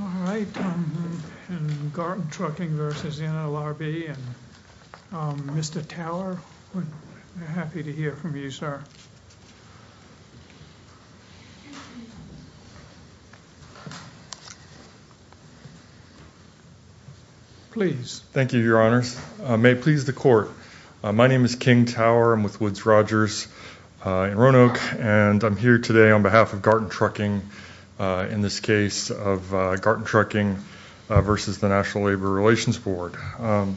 All right. Garten Trucking v. NLRB. Mr. Tower, we're happy to hear from you, sir. Please. Thank you, Your Honors. May it please the Court. My name is King Tower. I'm with Woods-Rogers in Roanoke, and I'm here today on behalf of Garten Trucking in this case of Garten Trucking v. the National Labor Relations Board. For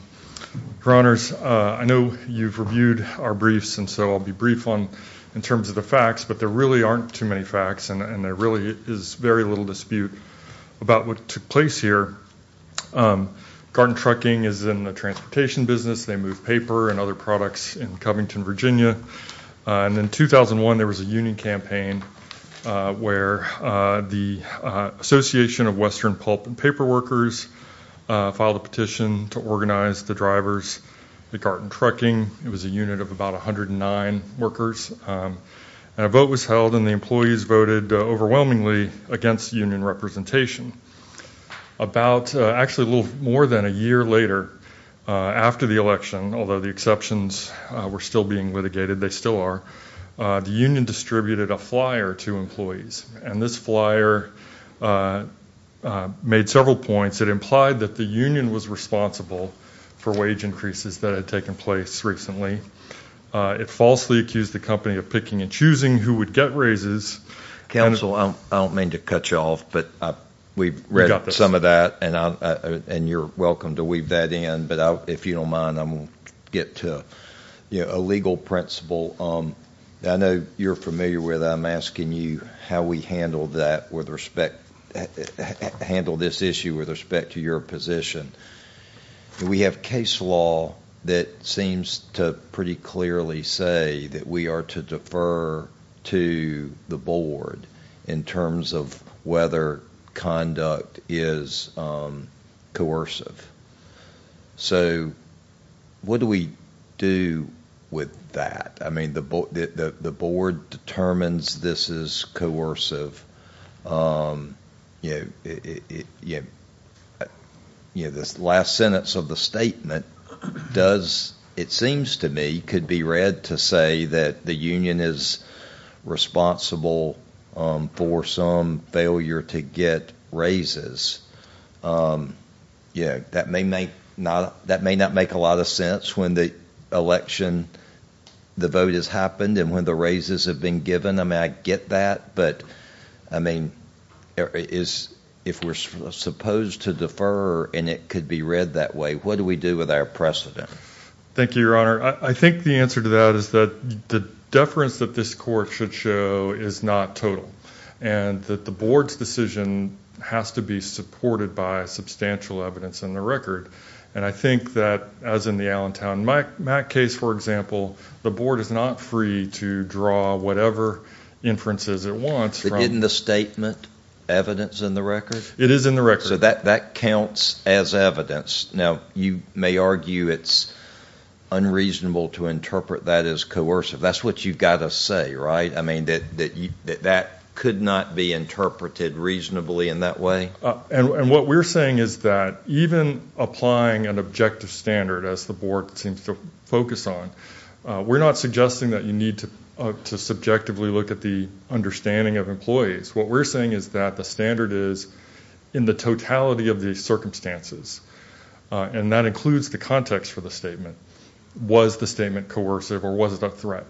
Honors, I know you've reviewed our briefs, and so I'll be brief on in terms of the facts, but there really aren't too many facts, and there really is very little dispute about what took place here. Garten Trucking is in the transportation business. They move paper and other products in Covington, Virginia. And in 2001, there was a union campaign where the Association of Western Pulp and Paper Workers filed a petition to organize the drivers at Garten Trucking. It was a unit of about 109 workers, and a vote was held, and the employees voted overwhelmingly against union representation. About, actually a little more than a year later, after the election, although the exceptions were still being litigated, they still are, the union distributed a flyer to employees. And this flyer made several points. It implied that the union was responsible for wage increases that had taken place recently. It falsely accused the company of picking and choosing who would get raises. Council, I don't mean to cut you off, but we've read some of that, and you're welcome to weave that in. But if you don't mind, I'm going to get to a legal principle. I know you're familiar with it. I'm asking you how we handle that with respect, handle this issue with respect to your position. We have case law that seems to pretty clearly say that we are to defer to the board in terms of whether conduct is coercive. So what do we do with that? I mean, the board determines this is coercive. You know, this last sentence of the statement does, it seems to me, could be read to say that the union is responsible for some failure to get raises. Yeah, that may not make a lot of sense when the election, the vote has happened, and when the raises have been given. I mean, I get that, but I mean, if we're supposed to defer and it could be read that way, what do we do with our precedent? Thank you, Your Honor. I think the answer to that is that the deference that this court should show is not total. And that the board's decision has to be supported by substantial evidence in the record. And I think that, as in the Allentown Mack case, for example, the board is not free to draw whatever inferences it wants. Isn't the statement evidence in the record? It is in the record. So that counts as evidence. Now, you may argue it's unreasonable to interpret that as coercive. That's what you've got to say, right? I mean, that could not be interpreted reasonably in that way? And what we're saying is that even applying an objective standard, as the board seems to focus on, we're not suggesting that you need to subjectively look at the understanding of employees. What we're saying is that the standard is in the totality of these circumstances. And that includes the context for the statement. Was the statement coercive or was it a threat?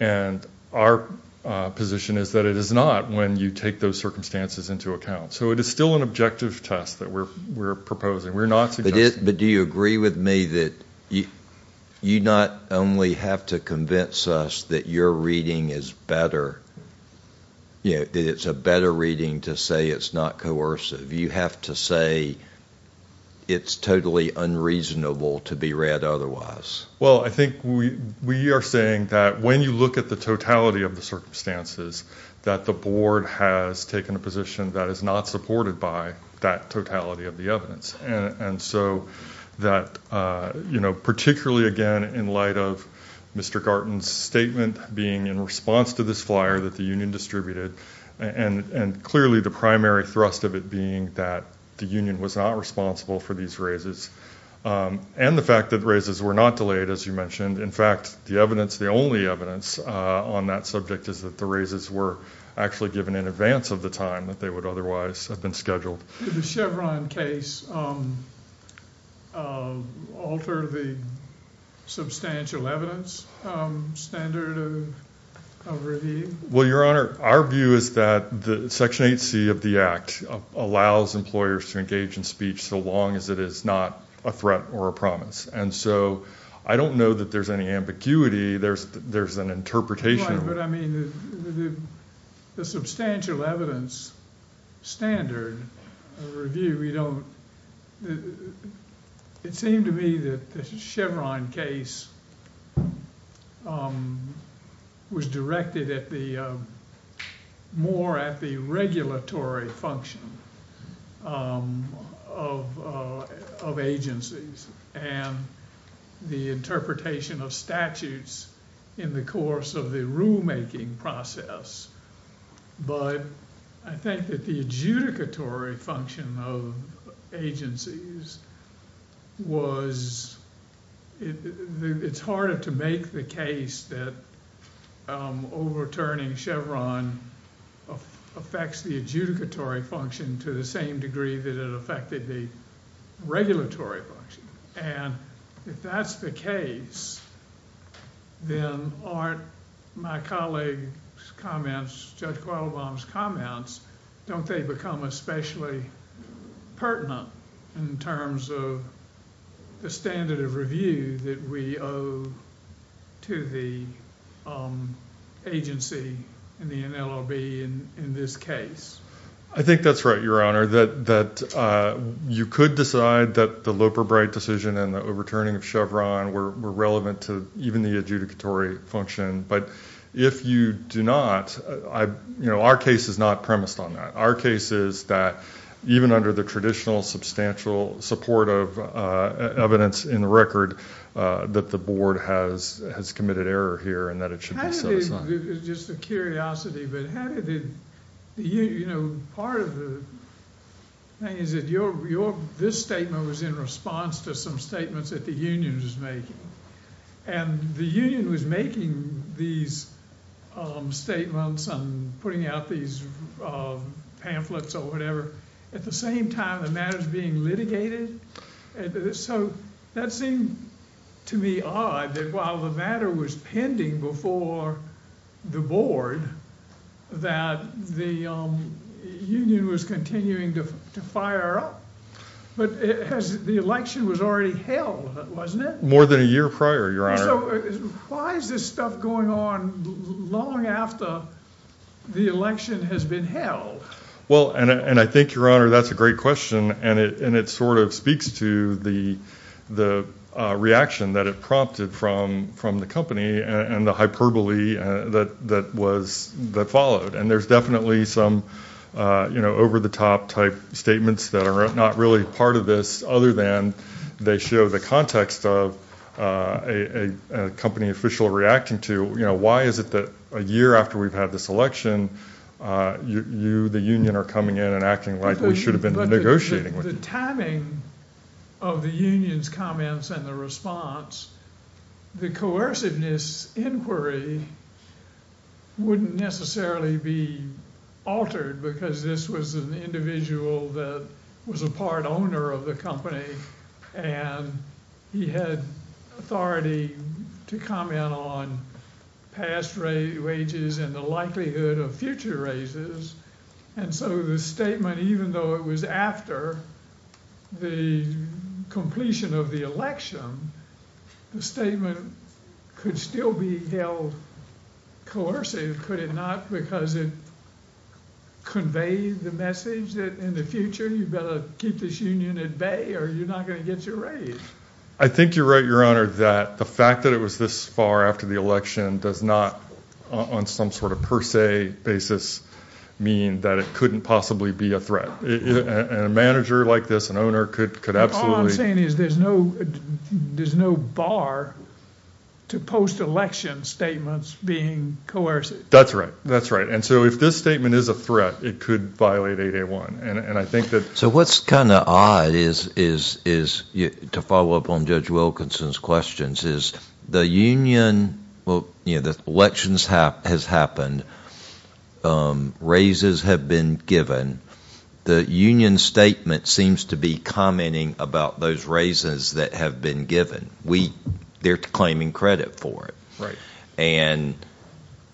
And our position is that it is not when you take those circumstances into account. So it is still an objective test that we're proposing. We're not suggesting. But do you agree with me that you not only have to convince us that your reading is better, you know, that it's a better reading to say it's not coercive. You have to say it's totally unreasonable to be read otherwise. Well, I are saying that when you look at the totality of the circumstances, that the board has taken a position that is not supported by that totality of the evidence. And so that, you know, particularly, again, in light of Mr. Garton's statement being in response to this flyer that the union distributed, and clearly the primary thrust of it being that the union was not responsible for these raises, and the fact that raises were not delayed, as you the only evidence on that subject is that the raises were actually given in advance of the time that they would otherwise have been scheduled. Chevron case. Um, uh, alter the substantial evidence standard of review. Well, your honor, our view is that section eight C of the act allows employers to engage in speech so long as it is not a threat or a promise. And so I don't know that there's any ambiguity. There's there's an interpretation, but I mean, the substantial evidence standard review. We don't. It seemed to me that Chevron case, um, was directed at the more at the regulatory function, um, of of agencies and the interpretation of statutes in the course of the rule making process. But I think that the adjudicatory function of agencies was it's harder to make the case that overturning Chevron affects the adjudicatory function to the same degree that it affected the regulatory function. And if that's the case, then aren't my colleague's comments, Judge Qualabong's comments, don't they become especially pertinent in terms of the standard of review that we owe to the agency in the NLRB in this case? I think that's right, your honor, that that you could decide that the Loper Bright decision and the overturning of Chevron were relevant to even the adjudicatory function. But if you do not, I you know, our case is not premised on that. Our case is that even under the traditional substantial support of evidence in the record that the board has has committed error here and that it should just a curiosity. But how did you know part of the thing is that your your this statement was in response to some statements that the union is making and the union was making these statements on putting out these pamphlets or whatever. At the same time, the matter is being litigated. So that seemed to me odd that while the matter was pending before the board that the union was continuing to fire up. But it has. The election was already held, wasn't it? More than a year prior, your honor. Why is this going on long after the election has been held? Well, and I think your honor, that's a great question. And it sort of speaks to the the reaction that it prompted from from the company and the hyperbole that that was that followed. And there's definitely some, you know, over the top type statements that are not really part of this other than they show the context of a company official reacting to, you know, why is it that a year after we've had this election, you the union are coming in and acting like we should have been negotiating with you. The timing of the union's comments and the response, the coerciveness inquiry wouldn't necessarily be altered because this was an individual that was a part and he had authority to comment on past wages and the likelihood of future raises. And so the statement, even though it was after the completion of the election, the statement could still be held coercive, could it not? Because it conveyed the message that in the future you better keep this union at bay or you're not going to get your raise. I think you're right, your honor, that the fact that it was this far after the election does not, on some sort of per se basis, mean that it couldn't possibly be a threat. A manager like this, an owner could absolutely... All I'm saying is there's no there's no bar to post election statements being coercive. That's right, that's right. And so if this statement is a threat, it could violate 8A1. And I think that... So what's kind of odd is to follow up on Judge Wilkinson's questions is the union, well, you know, the elections has happened, raises have been given, the union statement seems to be commenting about those raises that have been given. We, they're claiming credit for it. Right. And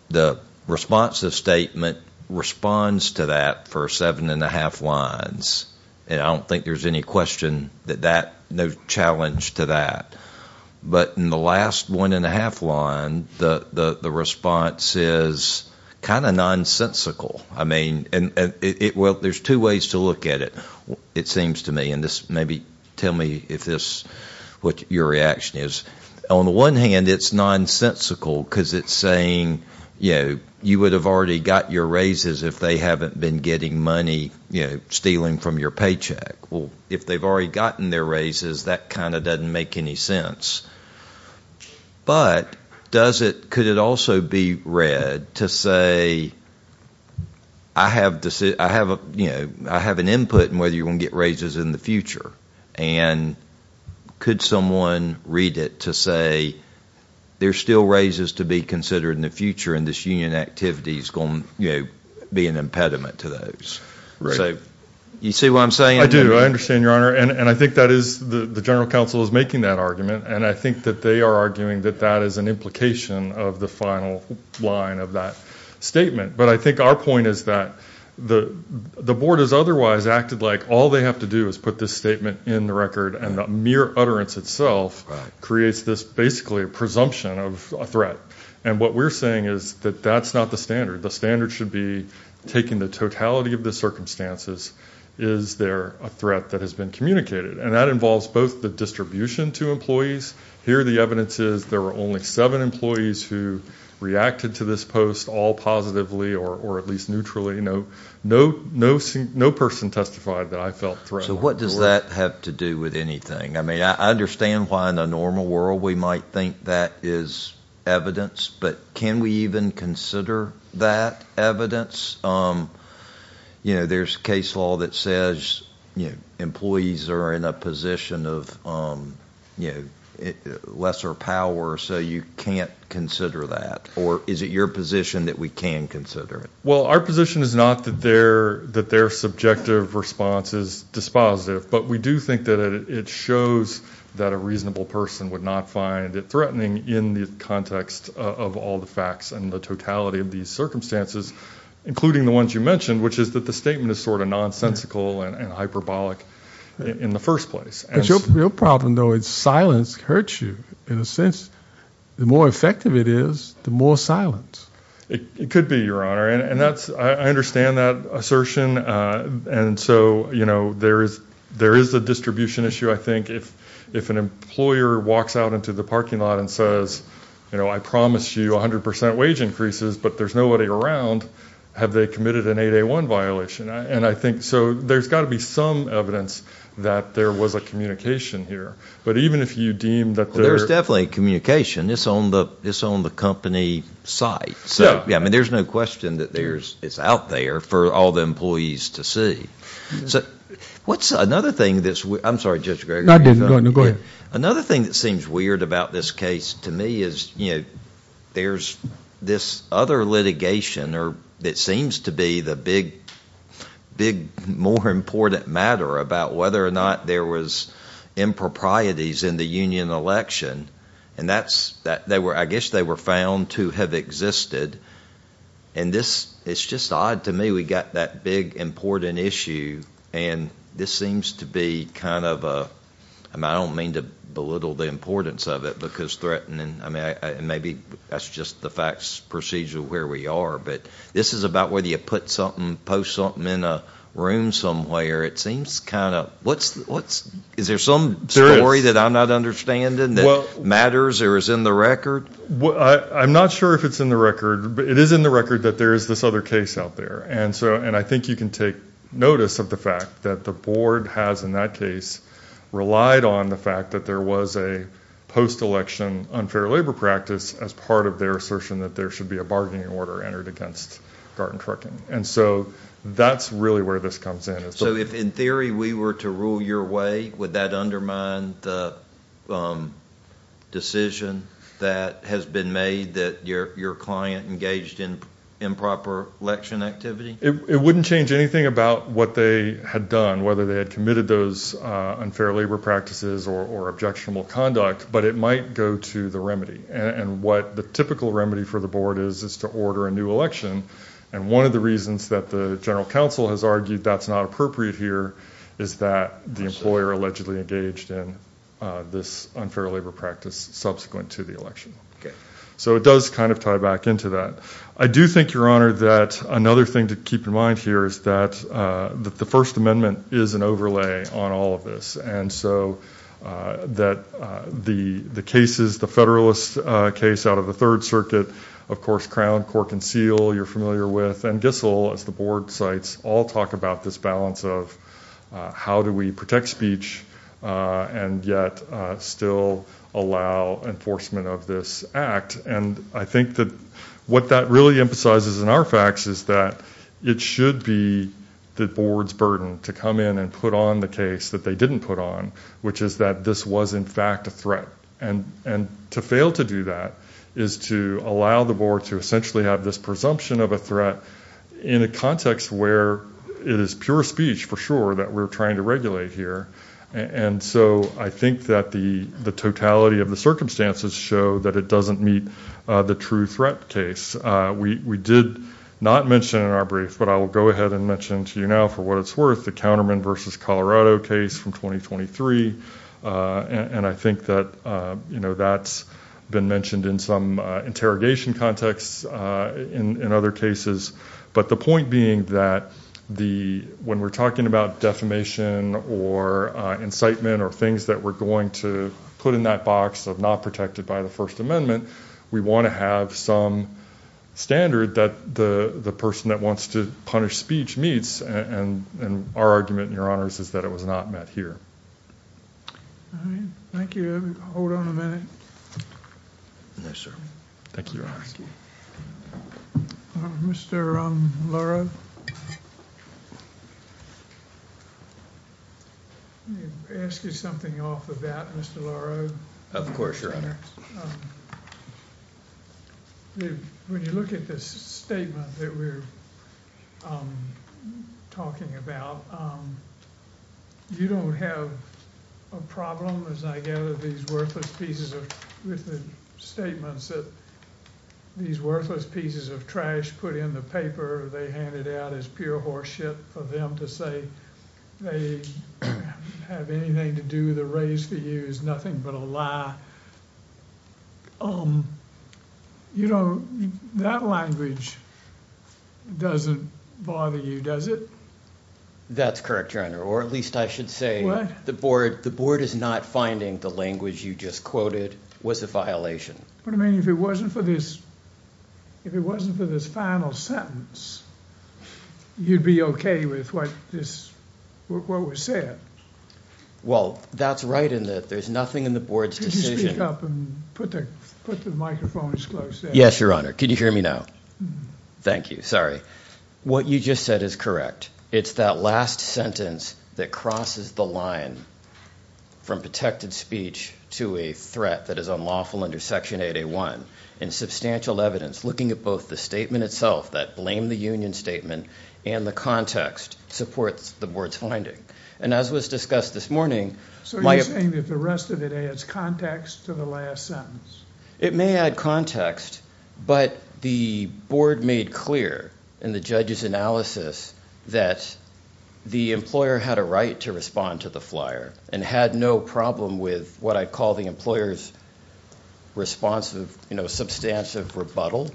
the response of statement responds to that for seven and a half lines. And I don't think there's any question that that, no challenge to that. But in the last one and a half line, the response is kind of nonsensical. I mean, and it, well, there's two ways to look at it, it seems to me, and this maybe, tell me if this, what your reaction is. On the one hand, it's nonsensical because it's saying, you know, you would have already got your raises if they haven't been getting money, you know, stealing from your paycheck. Well, if they've already gotten their raises, that kind of doesn't make any sense. But does it, could it also be read to say, I have to say, I have a, you know, I have an input in whether you're going to get raises in the future. And could someone read it to say, there's still raises to be considered in the future and this union activity is going, you know, be an impediment to those. Right. So, you see what I'm saying? I do, I understand, Your Honor, and I think that is, the General Council is making that argument, and I think that they are arguing that that is an implication of the final line of that statement. But I think our point is that the Board has otherwise acted like all they have to do is put this statement in the record and the mere utterance itself creates this basically a presumption of a threat. And what we're saying is that that's not the standard. The standard should be taking the totality of the circumstances. Is there a threat that has been communicated? And that involves both the distribution to employees, here the evidence is there were only seven employees who reacted to this post all positively or or at least neutrally. No, no, no, no person testified that I felt. So what does that have to do with anything? I mean, I understand why in the normal world we might think that is evidence, but can we even consider that evidence? Um, you know, there's case law that says, you know, employees are in a position of, um, you know, lesser power. So you can't consider that. Or is it your position that we can consider it? Well, our position is not that they're that their subjective response is dispositive. But we do think that it shows that a reasonable person would not find it threatening in the context of all the facts and the totality of these circumstances, including the ones you mentioned, which is that the statement is sort of nonsensical and hyperbolic in the first place. But your problem, though, is silence hurts you. In a sense, the more effective it is, the more silence it could be, Your Honor. And that's I understand that assertion. And so, you know, there is there is a distribution issue. I think if if an employer walks out into the parking lot and says, you know, I promise you 100% wage increases, but there's nobody around, have they committed an 81 violation? And I think so. There's got to be some evidence that there was a communication here. But even if you deem that there's definitely communication, it's on the it's on the company site. So, yeah, I mean, there's no question that there's it's out there for all the employees to see. So what's another thing that's I'm sorry, Judge Gregory. Go ahead. Another thing that seems weird about this case to me is, you know, there's this other litigation or that seems to be the big, big, more important matter about whether or not there was improprieties in the union election. And that's that they were, I guess they were found to have existed. And this is just odd to me. We got that big, important issue. And this seems to be kind of a I don't mean to belittle the importance of it because threatening. I mean, maybe that's just the facts procedural where we are. But this is about whether you put something post something in a room somewhere. It seems kind of what's what's is there some story that I'm not understanding that matters or is in the record? I'm not sure if it's in the record, but it is in the record that there is this other case out there. And so and I think you can take notice of the fact that the board has in that case relied on the fact that there was a post election unfair labor practice as part of their assertion that there should be a order entered against garden trucking. And so that's really where this comes in. So if in theory we were to rule your way, would that undermine the decision that has been made that your client engaged in improper election activity? It wouldn't change anything about what they had done, whether they had committed those unfair labor practices or objectionable conduct, but it might go to the remedy. And what the typical remedy for the board is it's to order a new election. And one of the reasons that the General Counsel has argued that's not appropriate here is that the employer allegedly engaged in this unfair labor practice subsequent to the election. So it does kind of tie back into that. I do think your honor that another thing to keep in mind here is that the First Amendment is an overlay on all of this. And so that the cases, the Federalist case out of the Third Circuit, of course Crown, Cork and Seal you're familiar with, and Gissel as the board cites, all talk about this balance of how do we protect speech and yet still allow enforcement of this act. And I think that what that really emphasizes in our facts is that it should be the board's burden to come in and put on the case that they didn't put on, which is that this was in fact a threat. And to fail to do that is to allow the board to essentially have this presumption of a threat in a context where it is pure speech for sure that we're trying to regulate here. And so I think that the the totality of the circumstances show that it doesn't meet the true threat case. We did not mention in our brief, but I will go ahead and mention to you now for what it's worth, the Counterman versus Colorado case from 2023. And I think that you know that's been mentioned in some interrogation contexts in other cases. But the point being that the when we're talking about defamation or incitement or things that we're going to put in that box of not protected by the First Amendment, we want to have some standard that the the person that wants to punish speech meets. And our argument, your honors, is that it was not met here. All right, thank you. Hold on a minute. Yes, sir. Thank you, your honor. Mr. Laurel, ask you something off of that, Mr. Laurel. Of course, your honor. When you look at this statement that we're talking about, you don't have a problem, as I gather, with these worthless pieces of statements that these worthless pieces of trash put in the paper they handed out as pure horse shit for them to say they have anything to do with the race for you is nothing but a lie. Um, you know, that language doesn't bother you, does it? That's correct, your honor. Or at least I should say the board. The board is not finding the language you just quoted was a violation. But I mean, if it wasn't for this, if it wasn't for this final sentence, you'd be okay with what this what was said. Well, that's right in that there's nothing in the board's decision. Put the put the microphones close. Yes, your honor. Can you hear me now? Thank you. Sorry. What you just said is correct. It's that last sentence that crosses the line from protected speech to a threat that is unlawful under Section 801 and substantial evidence looking at both the statement itself that blame the union statement and the context supports the board's finding. And as was discussed this morning, so you're saying that the rest of it adds context to the last sentence. It may add context, but the board made clear in the judge's analysis that the employer had a right to respond to the flyer and had no problem with what I call the employer's responsive, you know, substantive rebuttal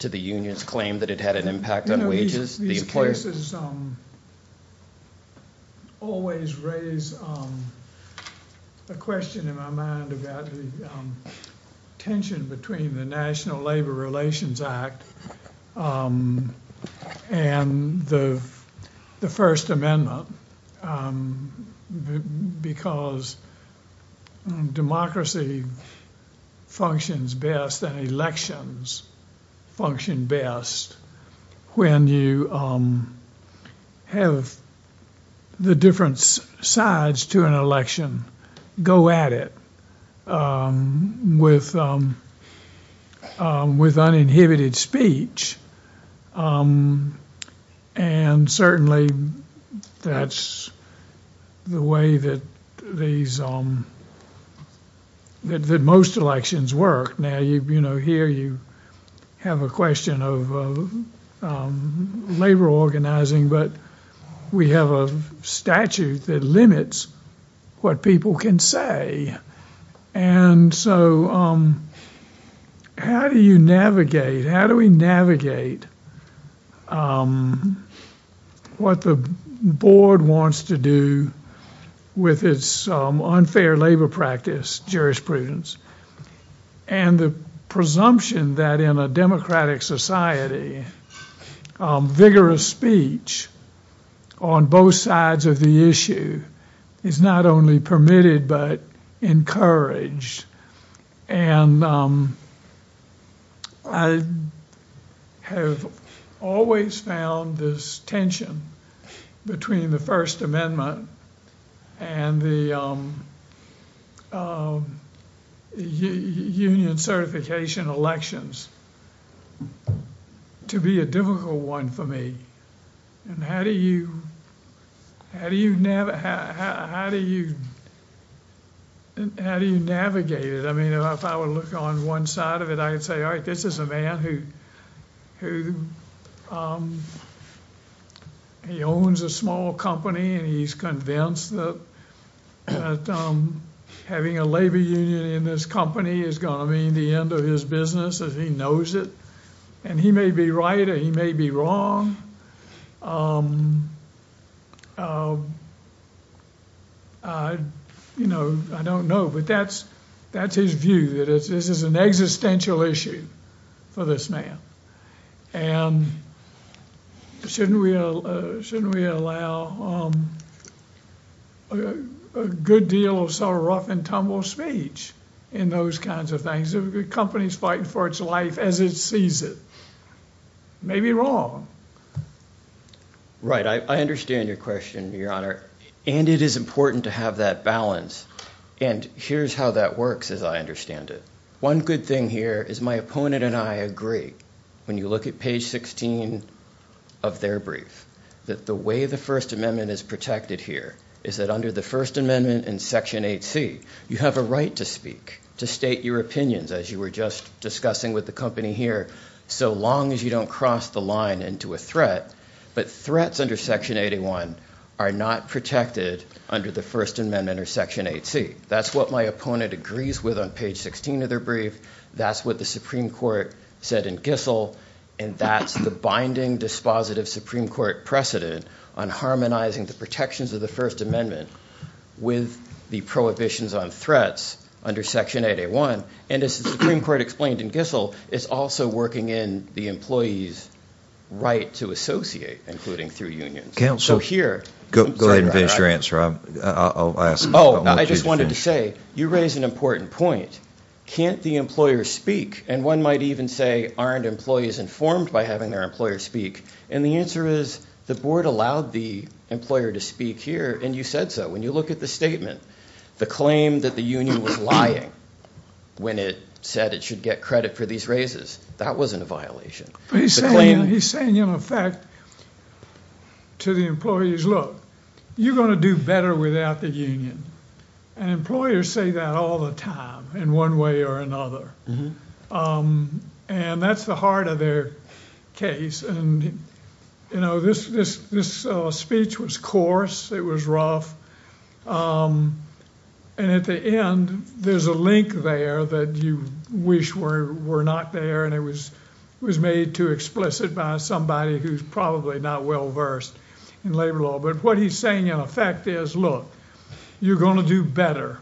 to the union's claim that it had an impact on the wages. These cases always raise a question in my mind about the tension between the National Labor Relations Act and the the First Amendment because democracy functions best and elections function best when you have the different sides to an election go at it with with uninhibited speech and certainly that's the way that these, that most elections work. Now, you know, here you have a question of labor organizing, but we have a statute that limits what people can say. And so how do you navigate, how do we navigate what the board wants to do with its unfair labor practice, jurisprudence, and the presumption that in a democratic society, vigorous speech on both sides of the issue is not only permitted but encouraged. And I have always found this tension between the First Amendment and the union certification elections to be a difficult one for me. And how do you, how do you, how do you, how do you navigate it? I mean, if I were to look on one side of it, I'd say, all right, this is a man who, who, he owns a small company and he's convinced that having a labor union in this company is gonna mean the end of his business as he knows it. And he may be right or he may be wrong. You know, I don't know, but that's, that's his view that it's, this is an existential issue for this man. And shouldn't we, shouldn't we allow a good deal of sort of rough-and-tumble speech in those kinds of things. If a company's fighting for its life as it sees it, it may be wrong. Right, I understand your question, Your Honor, and it is important to have that balance. And here's how that works as I understand it. One good thing here is my opponent and I agree, when you look at page 16 of their brief, that the way the First Amendment is protected here is that under the First Amendment in Section 8C, you have a right to speak, to state your opinions, as you were just discussing with the company here, so long as you don't cross the line into a threat. But threats under Section 81 are not protected under the First Amendment under Section 8C. That's what my opponent agrees with on page 16 of their brief, that's what the Supreme Court said in Gissel, and that's the binding dispositive Supreme Court precedent on harmonizing the protections of the First Amendment with the prohibitions on threats under Section 8A1. And as the Supreme Court explained in Gissel, it's also working in the employees' right to associate, including through unions. Counsel, go ahead and finish your answer. I just wanted to say, you raise an important point. Can't the employers speak? And one might even say, aren't employees informed by having their employers speak? And the answer is, the board allowed the employer to speak here and you said so. When you look at the statement, the claim that the union was lying when it said it should get credit for these raises, that wasn't a violation. He's saying, in effect, to the employees, look, you're going to do better without the union. And employers say that all the time, in one way or another. And that's the heart of their case. And you know, this speech was coarse, it was rough, and at the end, there's a link there that you wish were not there, and it was made too explicit by somebody who's probably not well-versed in labor law. But what he's saying, in effect, is, look, you're going to do better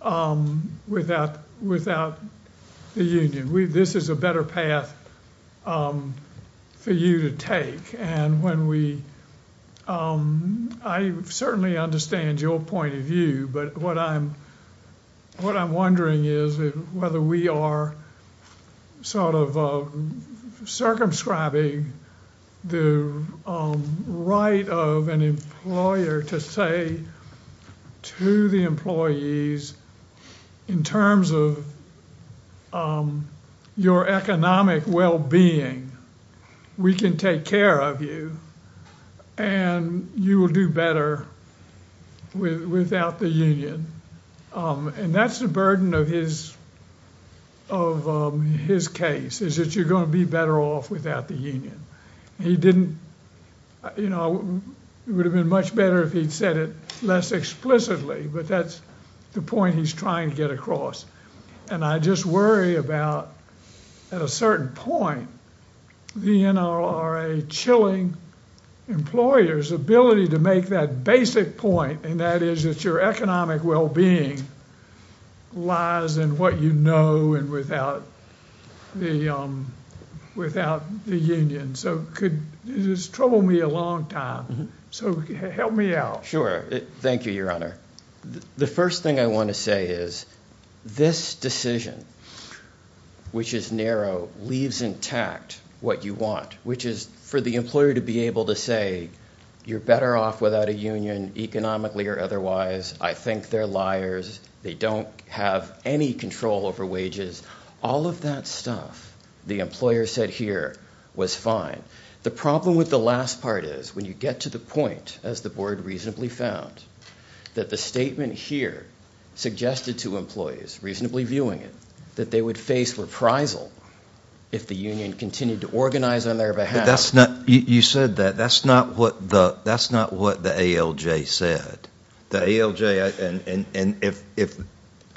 without the union. This is a better path for you to take. And when we, I certainly understand your point of view, but what I'm wondering is whether we are sort of circumscribing the right of an employer to say to the employees, in terms of your economic well-being, we can take care of you, and you will do better without the union. And that's the burden of his case, is that you're going to be better off without the union. He didn't, you know, it would have been much better if he'd said it less explicitly, but that's the point he's trying to get across. And I just worry about, at a certain point, the NRA chilling employers' ability to make that basic point, and that is that your economic well-being lies in what you know, and without the union. So could, it has troubled me a long time, so help me out. Sure. Thank you, Your Honor. The first thing I want to say is, this decision, which is narrow, leaves intact what you want, which is for the employer to be able to say, you're better off without a union, economically or otherwise, I think they're liars, they don't have any control over wages. All of that stuff the employer said here was fine. The problem with the last part is, when you get to the point, as the board reasonably found, that the statement here suggested to employees, reasonably viewing it, that they would face reprisal if the union continued to organize on their behalf. That's not, you said that, that's not what the, that's not what the ALJ said. The ALJ, and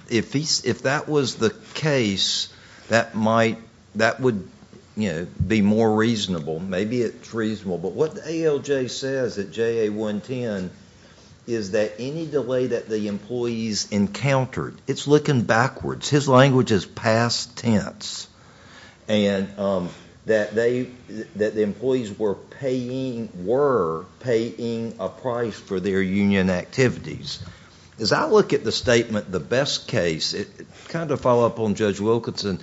if that was the case, that might, that would, you know, be more reasonable. Maybe it's reasonable, but what the ALJ says at JA 110 is that any delay that the employees encountered, it's looking backwards. His language is past tense, and that they, that the employees were paying, were paying a price for their union activities. As I look at the statement, the best case, kind of follow up on Judge Wilkinson,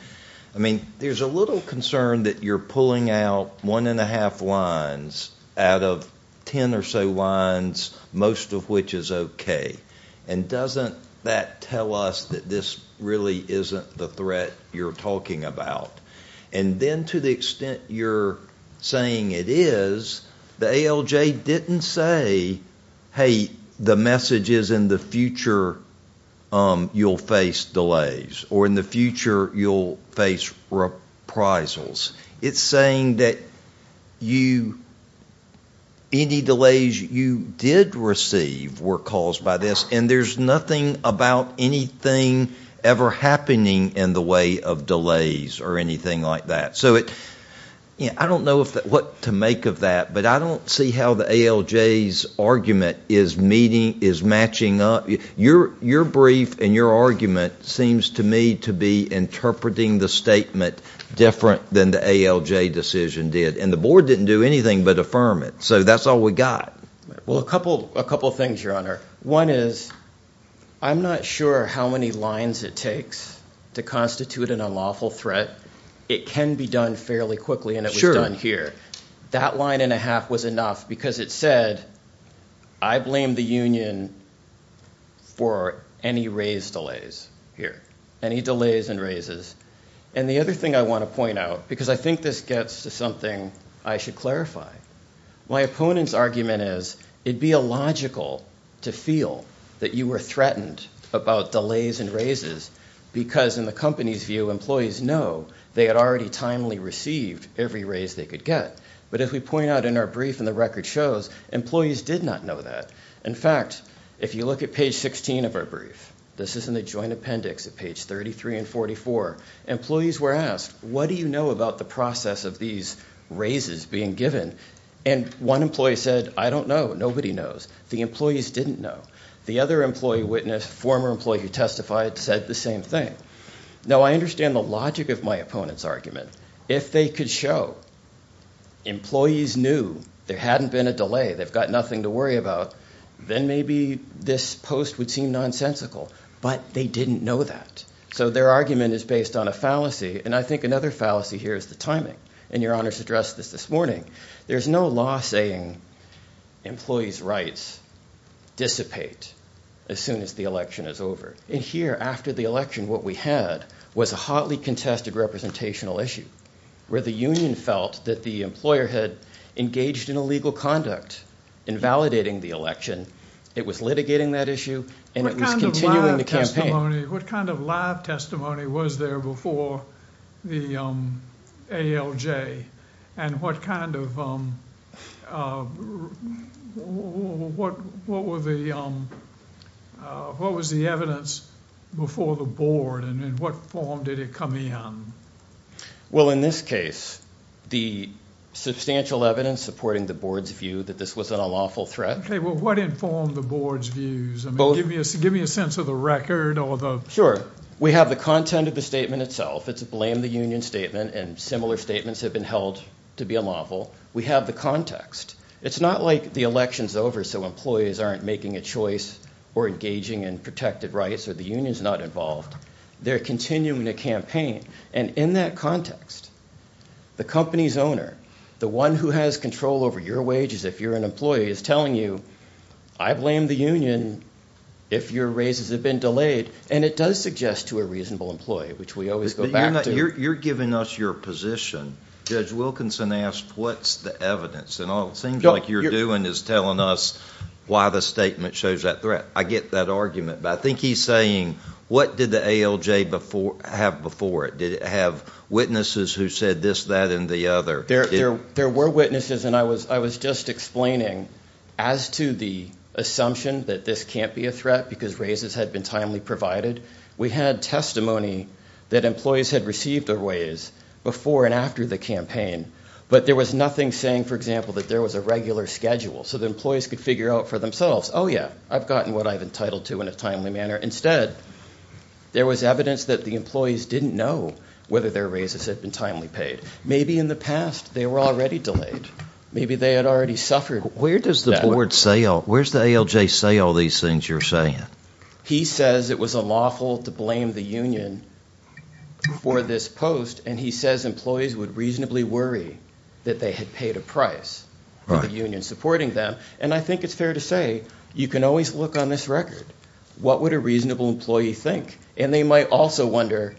I mean, there's a little concern that you're pulling out one and a half lines out of ten or so lines, most of which is okay, and doesn't that tell us that this really isn't the threat you're talking about? And then, to the extent you're saying it is, the ALJ didn't say, hey, the message is in the future you'll face delays, or in the future you'll face reprisals. It's saying that you, any delays you did receive were caused by this, and there's nothing about anything ever happening in the way of delays or anything like that. So it, yeah, I don't know if, what to make of that, but I don't see how the ALJ's argument is meeting, is matching up. Your, your brief and your argument seems to me to be interpreting the statement different than the ALJ decision did, and the board didn't do anything but affirm it, so that's all we got. Well, a couple, a couple things, Your Honor. One is, I'm not sure how many lines it takes to constitute an unlawful threat. It can be done fairly quickly, and it was done here. That line and a half was enough because it said, I blame the union for any raise delays here, any delays and raises. And the other thing I want to point out, because I think this gets to something I should clarify, my opponent's argument is it'd be illogical to feel that you were threatened about delays and raises because, in the company's view, employees know they had already timely received every raise they could get, but if we point out in our brief and the record shows, employees did not know that. In fact, if you look at page 16 of our brief, this is in the joint appendix at page 33 and 44, employees were asked, what do you know about the process of these raises being given? And one employee said, I don't know, nobody knows. The employees didn't know. The other employee witness, former employee who testified, said the same thing. Now, I understand the logic of my opponent's argument. If they could show employees knew there hadn't been a delay, they've got nothing to worry about, then maybe this post would seem nonsensical, but they didn't know that. So their argument is based on a fallacy, and I think another fallacy here is the timing, and Your Honors addressed this this morning. There's no law saying employees' rights dissipate as soon as the election is over. And here, after the election, what we had was a hotly contested representational issue, where the union felt that the employer had engaged in illegal conduct, invalidating the election. It was litigating that issue, and it was continuing the campaign. What kind of live testimony was there before the ALJ, and what kind of, what was the evidence before the board, and in what form did it come in? Well, in this case, the substantial evidence supporting the board's view that this wasn't a lawful threat. Okay, well, what informed the board's views? Give me a sense of the record. Sure. We have the content of the statement itself. It's a blame the union statement, and similar statements have been held to be unlawful. We have the context. It's not like the election's over, so employees aren't making a choice, or engaging in protected rights, or the union's not involved. They're continuing the campaign, and in that context, the company's owner, the one who has control over your wages, if you're an employee, is telling you, I blame the union if your raises have been delayed. And it does suggest to a reasonable employee, which we always go back to. You're giving us your position. Judge Wilkinson asked, what's the evidence? And all it seems like you're doing is telling us why the statement shows that threat. I get that argument, but I think he's saying, what did the ALJ have before it? Did it have witnesses who said this, that, and the other? There were witnesses, and I was just explaining, as to the assumption that this can't be a threat because raises had been timely provided, we had testimony that employees had received their raise before and after the campaign, but there was nothing saying, for example, that there was a regular schedule, so the employees could figure out for themselves, oh yeah, I've gotten what I've entitled to in a timely manner. Instead, there was evidence that the employees didn't know whether their raises had been timely paid. Maybe in the past, they were already delayed. Maybe they had already suffered. Where does the board say all, where's the ALJ say all these things you're saying? He says it was unlawful to blame the union for this post, and he says employees would reasonably worry that they had paid a price for the union supporting them, and I think it's fair to say, you can always look on this record. What would a reasonable employee think? And they might also wonder,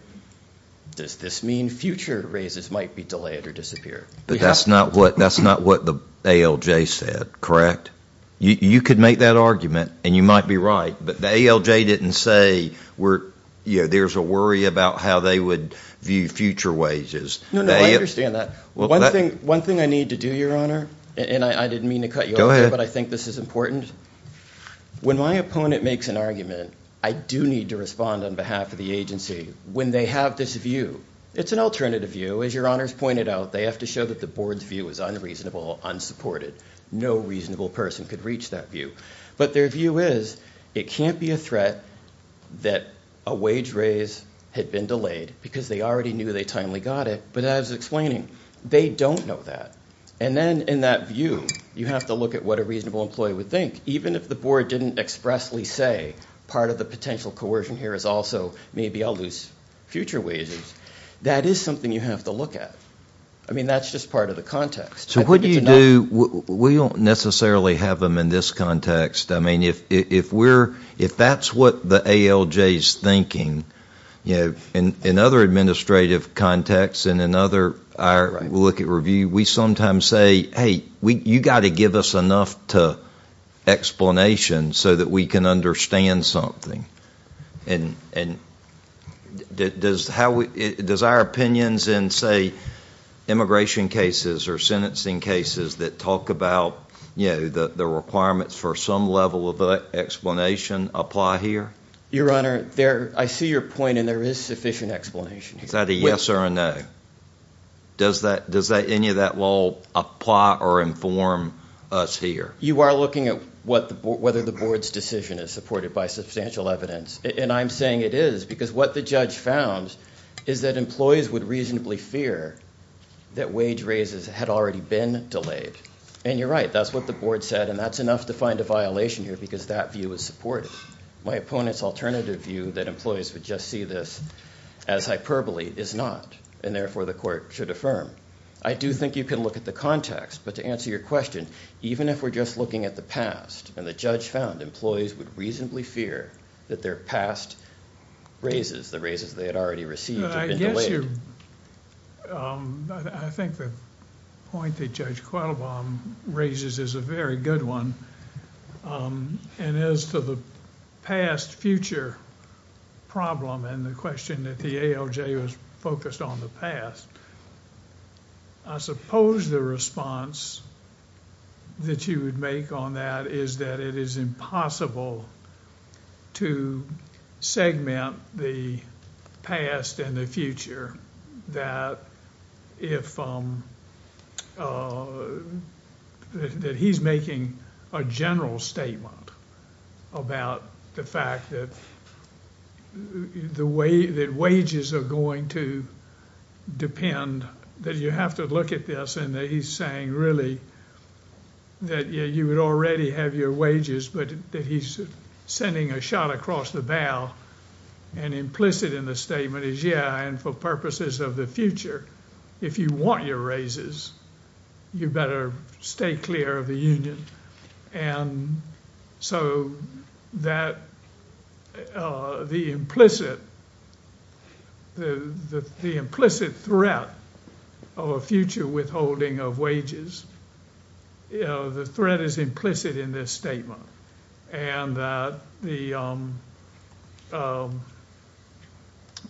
does this mean future raises might be delayed or disappear? But that's not what the ALJ said, correct? You could make that argument, and you might be right, but the ALJ didn't say, you know, there's a worry about how they would view future wages. No, no, I understand that. One thing I need to do, Your Honor, and I didn't mean to cut you off, but I think this is important. When my opponent makes an argument, I do need to respond on behalf of the agency when they have this view. It's an alternative view. As Your Honor's pointed out, they have to show that the board's view is unreasonable, unsupported. No reasonable person could reach that view. But their view is, it can't be a threat that a wage raise had been delayed because they already knew they timely got it, but as I was explaining, they don't know that. And then, in that view, you have to look at what a reasonable employee would think, even if the board didn't expressly say, part of the potential coercion here is also, maybe I'll lose future wages. That is something you have to look at. I mean, that's just part of the context. So what do you do, we don't necessarily have them in this context. I mean, if we're, if that's what the ALJ's thinking, you know, in other administrative contexts and in other, I look at review, we sometimes say, hey, you got to give us enough to explanation so that we can understand something. And does how we, does our opinions in, say, immigration cases or sentencing cases that talk about, you Your Honor, there, I see your point and there is sufficient explanation. Is that a yes or a no? Does that, does that, any of that will apply or inform us here? You are looking at what the, whether the board's decision is supported by substantial evidence. And I'm saying it is, because what the judge found is that employees would reasonably fear that wage raises had already been delayed. And you're right, that's what the board said, and that's enough to find a violation here, because that view is supported. My opponent's alternative view, that employees would just see this as hyperbole, is not, and therefore the court should affirm. I do think you can look at the context, but to answer your question, even if we're just looking at the past, and the judge found employees would reasonably fear that their past raises, the raises they had already received, had been delayed. I guess you're, I think the point that Judge Qualbaum raises is a very good one. And as to the past-future problem, and the question that the ALJ was focused on the past, I suppose the response that you would make on that is that it is making a general statement about the fact that the way that wages are going to depend, that you have to look at this, and that he's saying really that you would already have your wages, but that he's sending a shot across the bow, and implicit in the statement is, yeah, and for purposes of the future, if you want your raises, you better stay clear of the union, and so that the implicit, the implicit threat of a future withholding of wages, you know, the threat is implicit in this statement, and that the,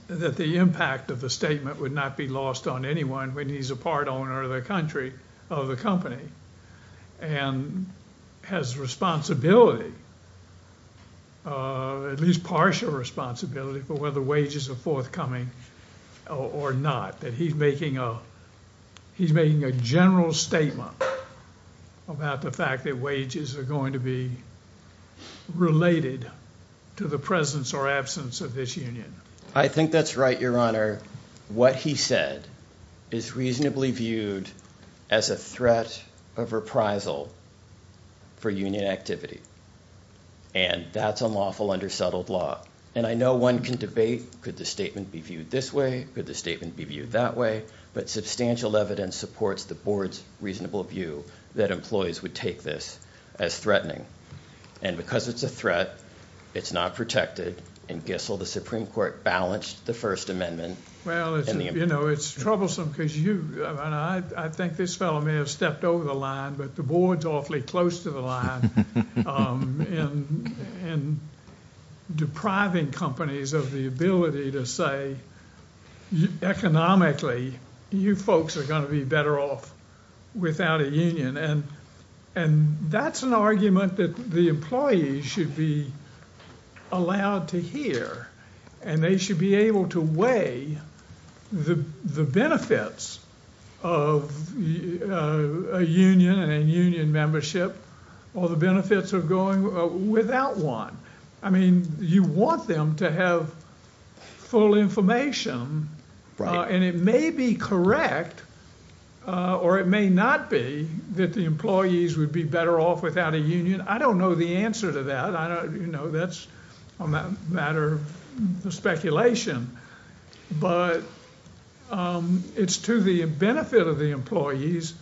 that the impact of the statement would not be lost on anyone when he's a part owner of the country, of the company, and has responsibility, at least partial responsibility for whether wages are forthcoming or not, that he's making a, he's making a general statement about the fact that wages are going to be related to the presence or absence of this union. I think that's right, Your Honor. What he said is reasonably viewed as a threat of reprisal for union activity, and that's unlawful under settled law, and I know one can debate could the statement be viewed this way, could the statement be viewed that way, but substantial evidence supports the board's reasonable view that employees would take this as threatening, and because it's a threat, it's not protected. In Gissel, the Supreme Court balanced the First Amendment. Well, it's, you know, it's troublesome because you, I mean, I think this fellow may have stepped over the line, but the board's awfully close to the line in depriving companies of the ability to say, economically, you folks are going to be better off without a union, and that's an argument that the employees should be allowed to hear, and they should be able to weigh the benefits of a union and union membership, or the benefits of going without one. I mean, you want them to have full information, and it may be correct, or it may not be, that the employees would be better off without a union. I don't know the answer to that, you know, that's a matter of speculation, but it's to the benefit of the employees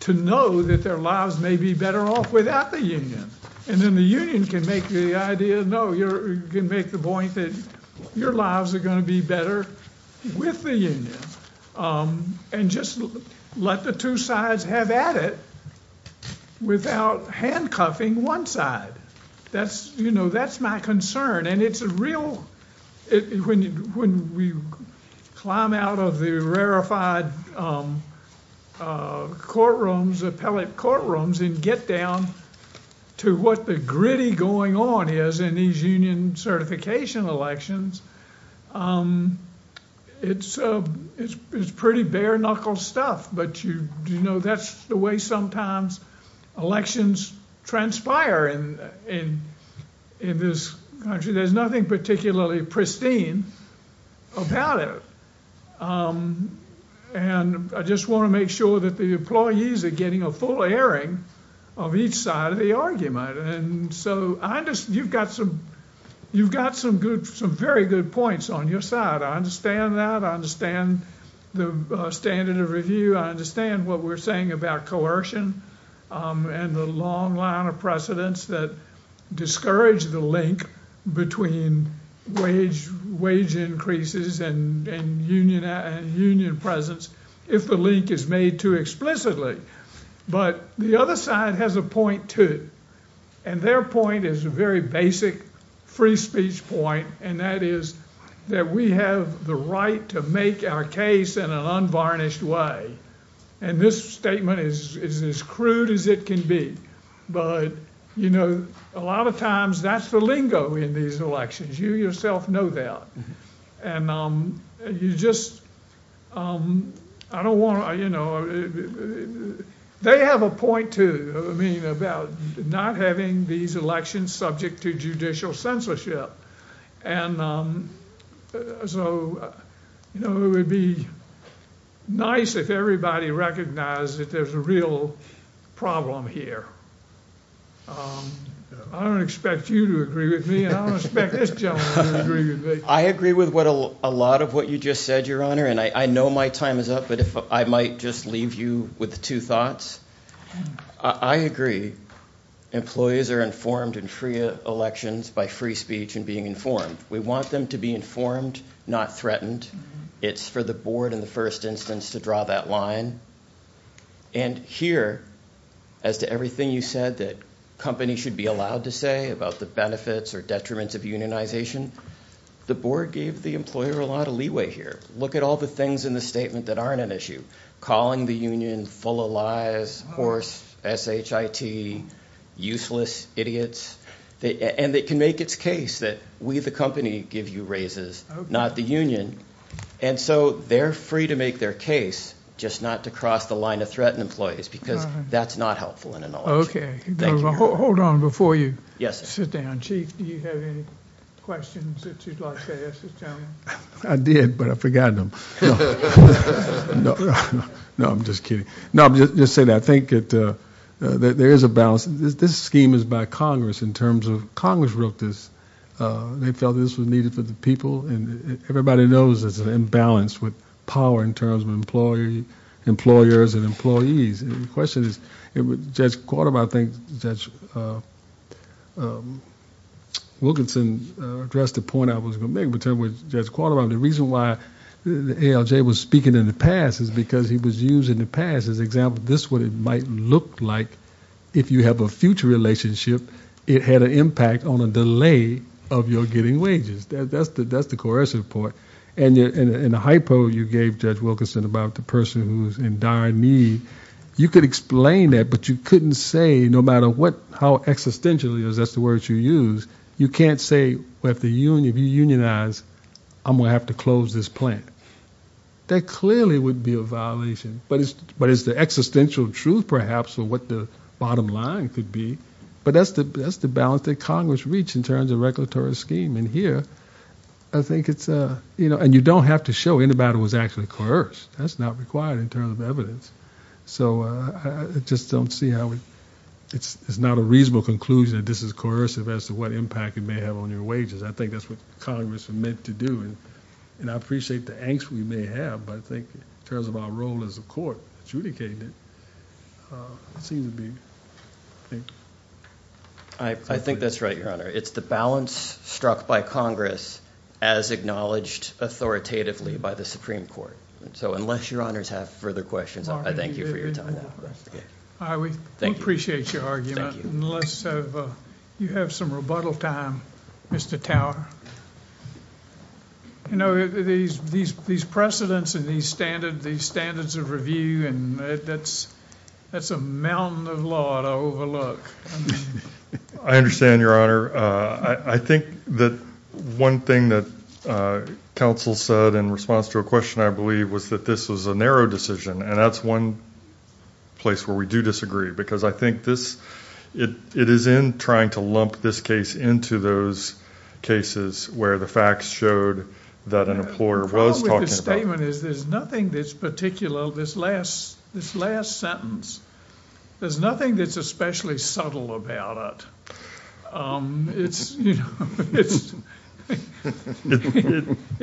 to know that their lives may be better off without the union, and then the union can make the idea, no, you can make the point that your lives are going to be better with the union, and just let the two sides have at it without handcuffing one side. That's, you know, that's my concern, and it's a real, when we climb out of the rarified courtrooms, appellate courtrooms, and get down to what the gritty going on is in these union certification elections, it's pretty bare knuckle stuff, but you know, that's the way sometimes elections transpire in this country. There's nothing particularly pristine about it, and I just want to make sure that the employees are getting a full airing of each side of the argument. And so, you've got some very good points on your side. I understand that. I understand the standard of review. I understand what we're saying about coercion and the long line of precedents that discourage the link between wage increases and union presence if the link is made too explicitly, but the other side has a point too, and their point is a very basic free speech point, and that is that we have the right to make our case in an unvarnished way, and this statement is as crude as it can be, but, you know, a lot of times that's the lingo in these elections. You yourself know that, and you just, I don't want to, you know, they have a point too, I mean, about not having these elections subject to judicial so, you know, it would be nice if everybody recognized that there's a real problem here, I don't expect you to agree with me, and I don't expect this gentleman to agree with me. I agree with what a lot of what you just said, your honor, and I know my time is up, but if I might just leave you with two thoughts, I agree, employees are informed in free elections by free speech and being informed, we want them to be informed, not threatened, it's for the board in the first instance to draw that line, and here, as to everything you said that companies should be allowed to say about the benefits or detriments of unionization, the board gave the employer a lot of leeway here, look at all the things in the statement that aren't an issue, calling the union full of lies, hoarse, SHIT, useless idiots, and they can make its case that we, the company, give you raises, not the union, and so they're free to make their case, just not to cross the line of threatened employees, because that's not helpful in a knowledge. Okay, hold on before you sit down. Chief, do you have any questions that you'd like to ask this gentleman? I did, but I forgot them. No, I'm just kidding. No, I'm just saying that I think that there is a balance, this scheme is by Congress, in terms of Congress wrote this, they felt this was needed for the people, and everybody knows there's an imbalance with power in terms of employers and employees, and the question is, Judge Qualtermann, I think Judge Wilkinson addressed the point I was going to make, but Judge Qualtermann, the reason why ALJ was speaking in the past is because he was using the past as an example, this is what it might look like if you have a future relationship, it had an impact on a delay of your getting wages. That's the coercive part, and the hypo you gave Judge Wilkinson about the person who's in dire need, you could explain that, but you couldn't say, no matter how existential it is, that's the word you used, you can't say, if you unionize, I'm going to have to close this plant. That clearly would be a violation, but it's the existential truth, perhaps, or what the bottom line could be, but that's the balance that Congress reached in terms of regulatory scheme, and here, I think it's, and you don't have to show anybody was actually coerced, that's not required in terms of evidence, so I just don't see how, it's not a reasonable conclusion that this is coercive as to what impact it may have on your wages, I think that's what Congress is meant to do, and I appreciate the angst we may have, but I think in terms of our role as a court adjudicating it, it seems to be, I think. I think that's right, Your Honor. It's the balance struck by Congress as acknowledged authoritatively by the Supreme Court, so unless Your Honors have further questions, I thank you for your time now. I would appreciate your argument, unless you have some rebuttal time, Mr. Tower. You know, these precedents and these standards of review, that's a mountain of law to overlook. I understand, Your Honor. I think that one thing that counsel said in response to a question, I believe, was that this was a narrow decision, and that's one place where we do disagree, because I think this, it is in trying to lump this case into those cases where the facts showed that an employer was talking about... The problem with this statement is there's nothing that's particular, this last sentence, there's nothing that's especially subtle about it.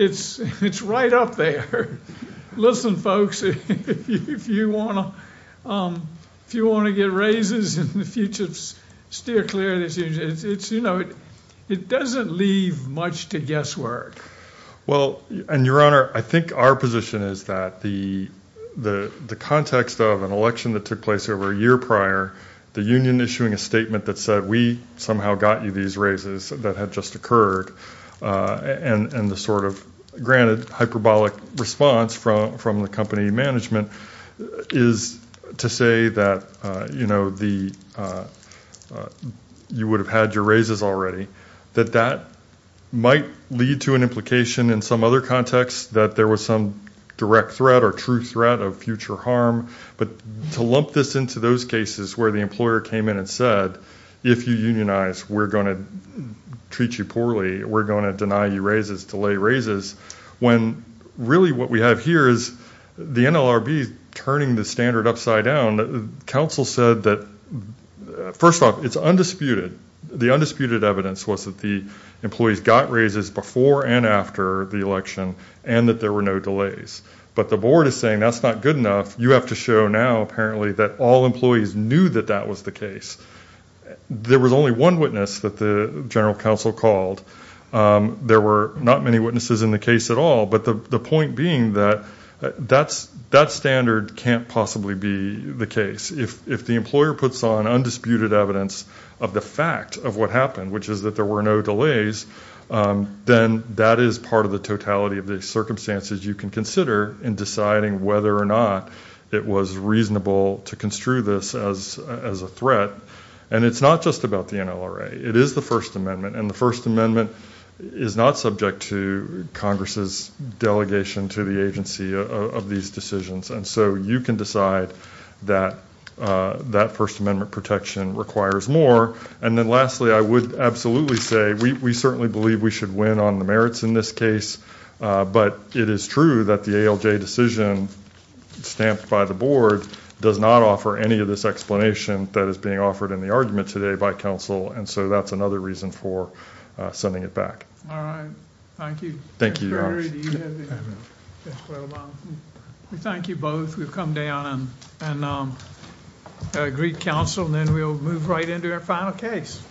It's right up there. Listen, folks, if you want to get raises in the future, steer clear of this. It doesn't leave much to guesswork. Well, and Your Honor, I think our position is that the context of an election that took place over a year prior, the union issuing a statement that said, we somehow got you these raises that had just occurred, and the sort of granted hyperbolic response from the company management is to say that you would have had your raises already, that that might lead to an implication in some other context that there was some direct threat or true threat of future harm. But to lump this into those cases where the employer came in and said, if you unionize, we're going to treat you poorly, we're going to deny you raises, delay really what we have here is the NLRB turning the standard upside down. Counsel said that, first off, it's undisputed. The undisputed evidence was that the employees got raises before and after the election and that there were no delays. But the board is saying that's not good enough. You have to show now, apparently, that all employees knew that that was the case. There was only one witness that the general counsel called. There were not many witnesses in the case at all. But the point being that that standard can't possibly be the case. If the employer puts on undisputed evidence of the fact of what happened, which is that there were no delays, then that is part of the totality of the circumstances you can consider in deciding whether or not it was reasonable to construe this as a threat. And it's not just about the NLRA. It is the First Amendment. And the First Amendment is not subject to Congress's delegation to the agency of these decisions. And so you can decide that that First Amendment protection requires more. And then lastly, I would absolutely say we certainly believe we should win on the merits in this case. But it is true that the ALJ decision stamped by the board does not offer any of this explanation that is being offered in the argument today by counsel. And so that's another reason for sending it back. All right. Thank you. Thank you. Thank you both. We've come down and agreed counsel and then we'll move right into our final case.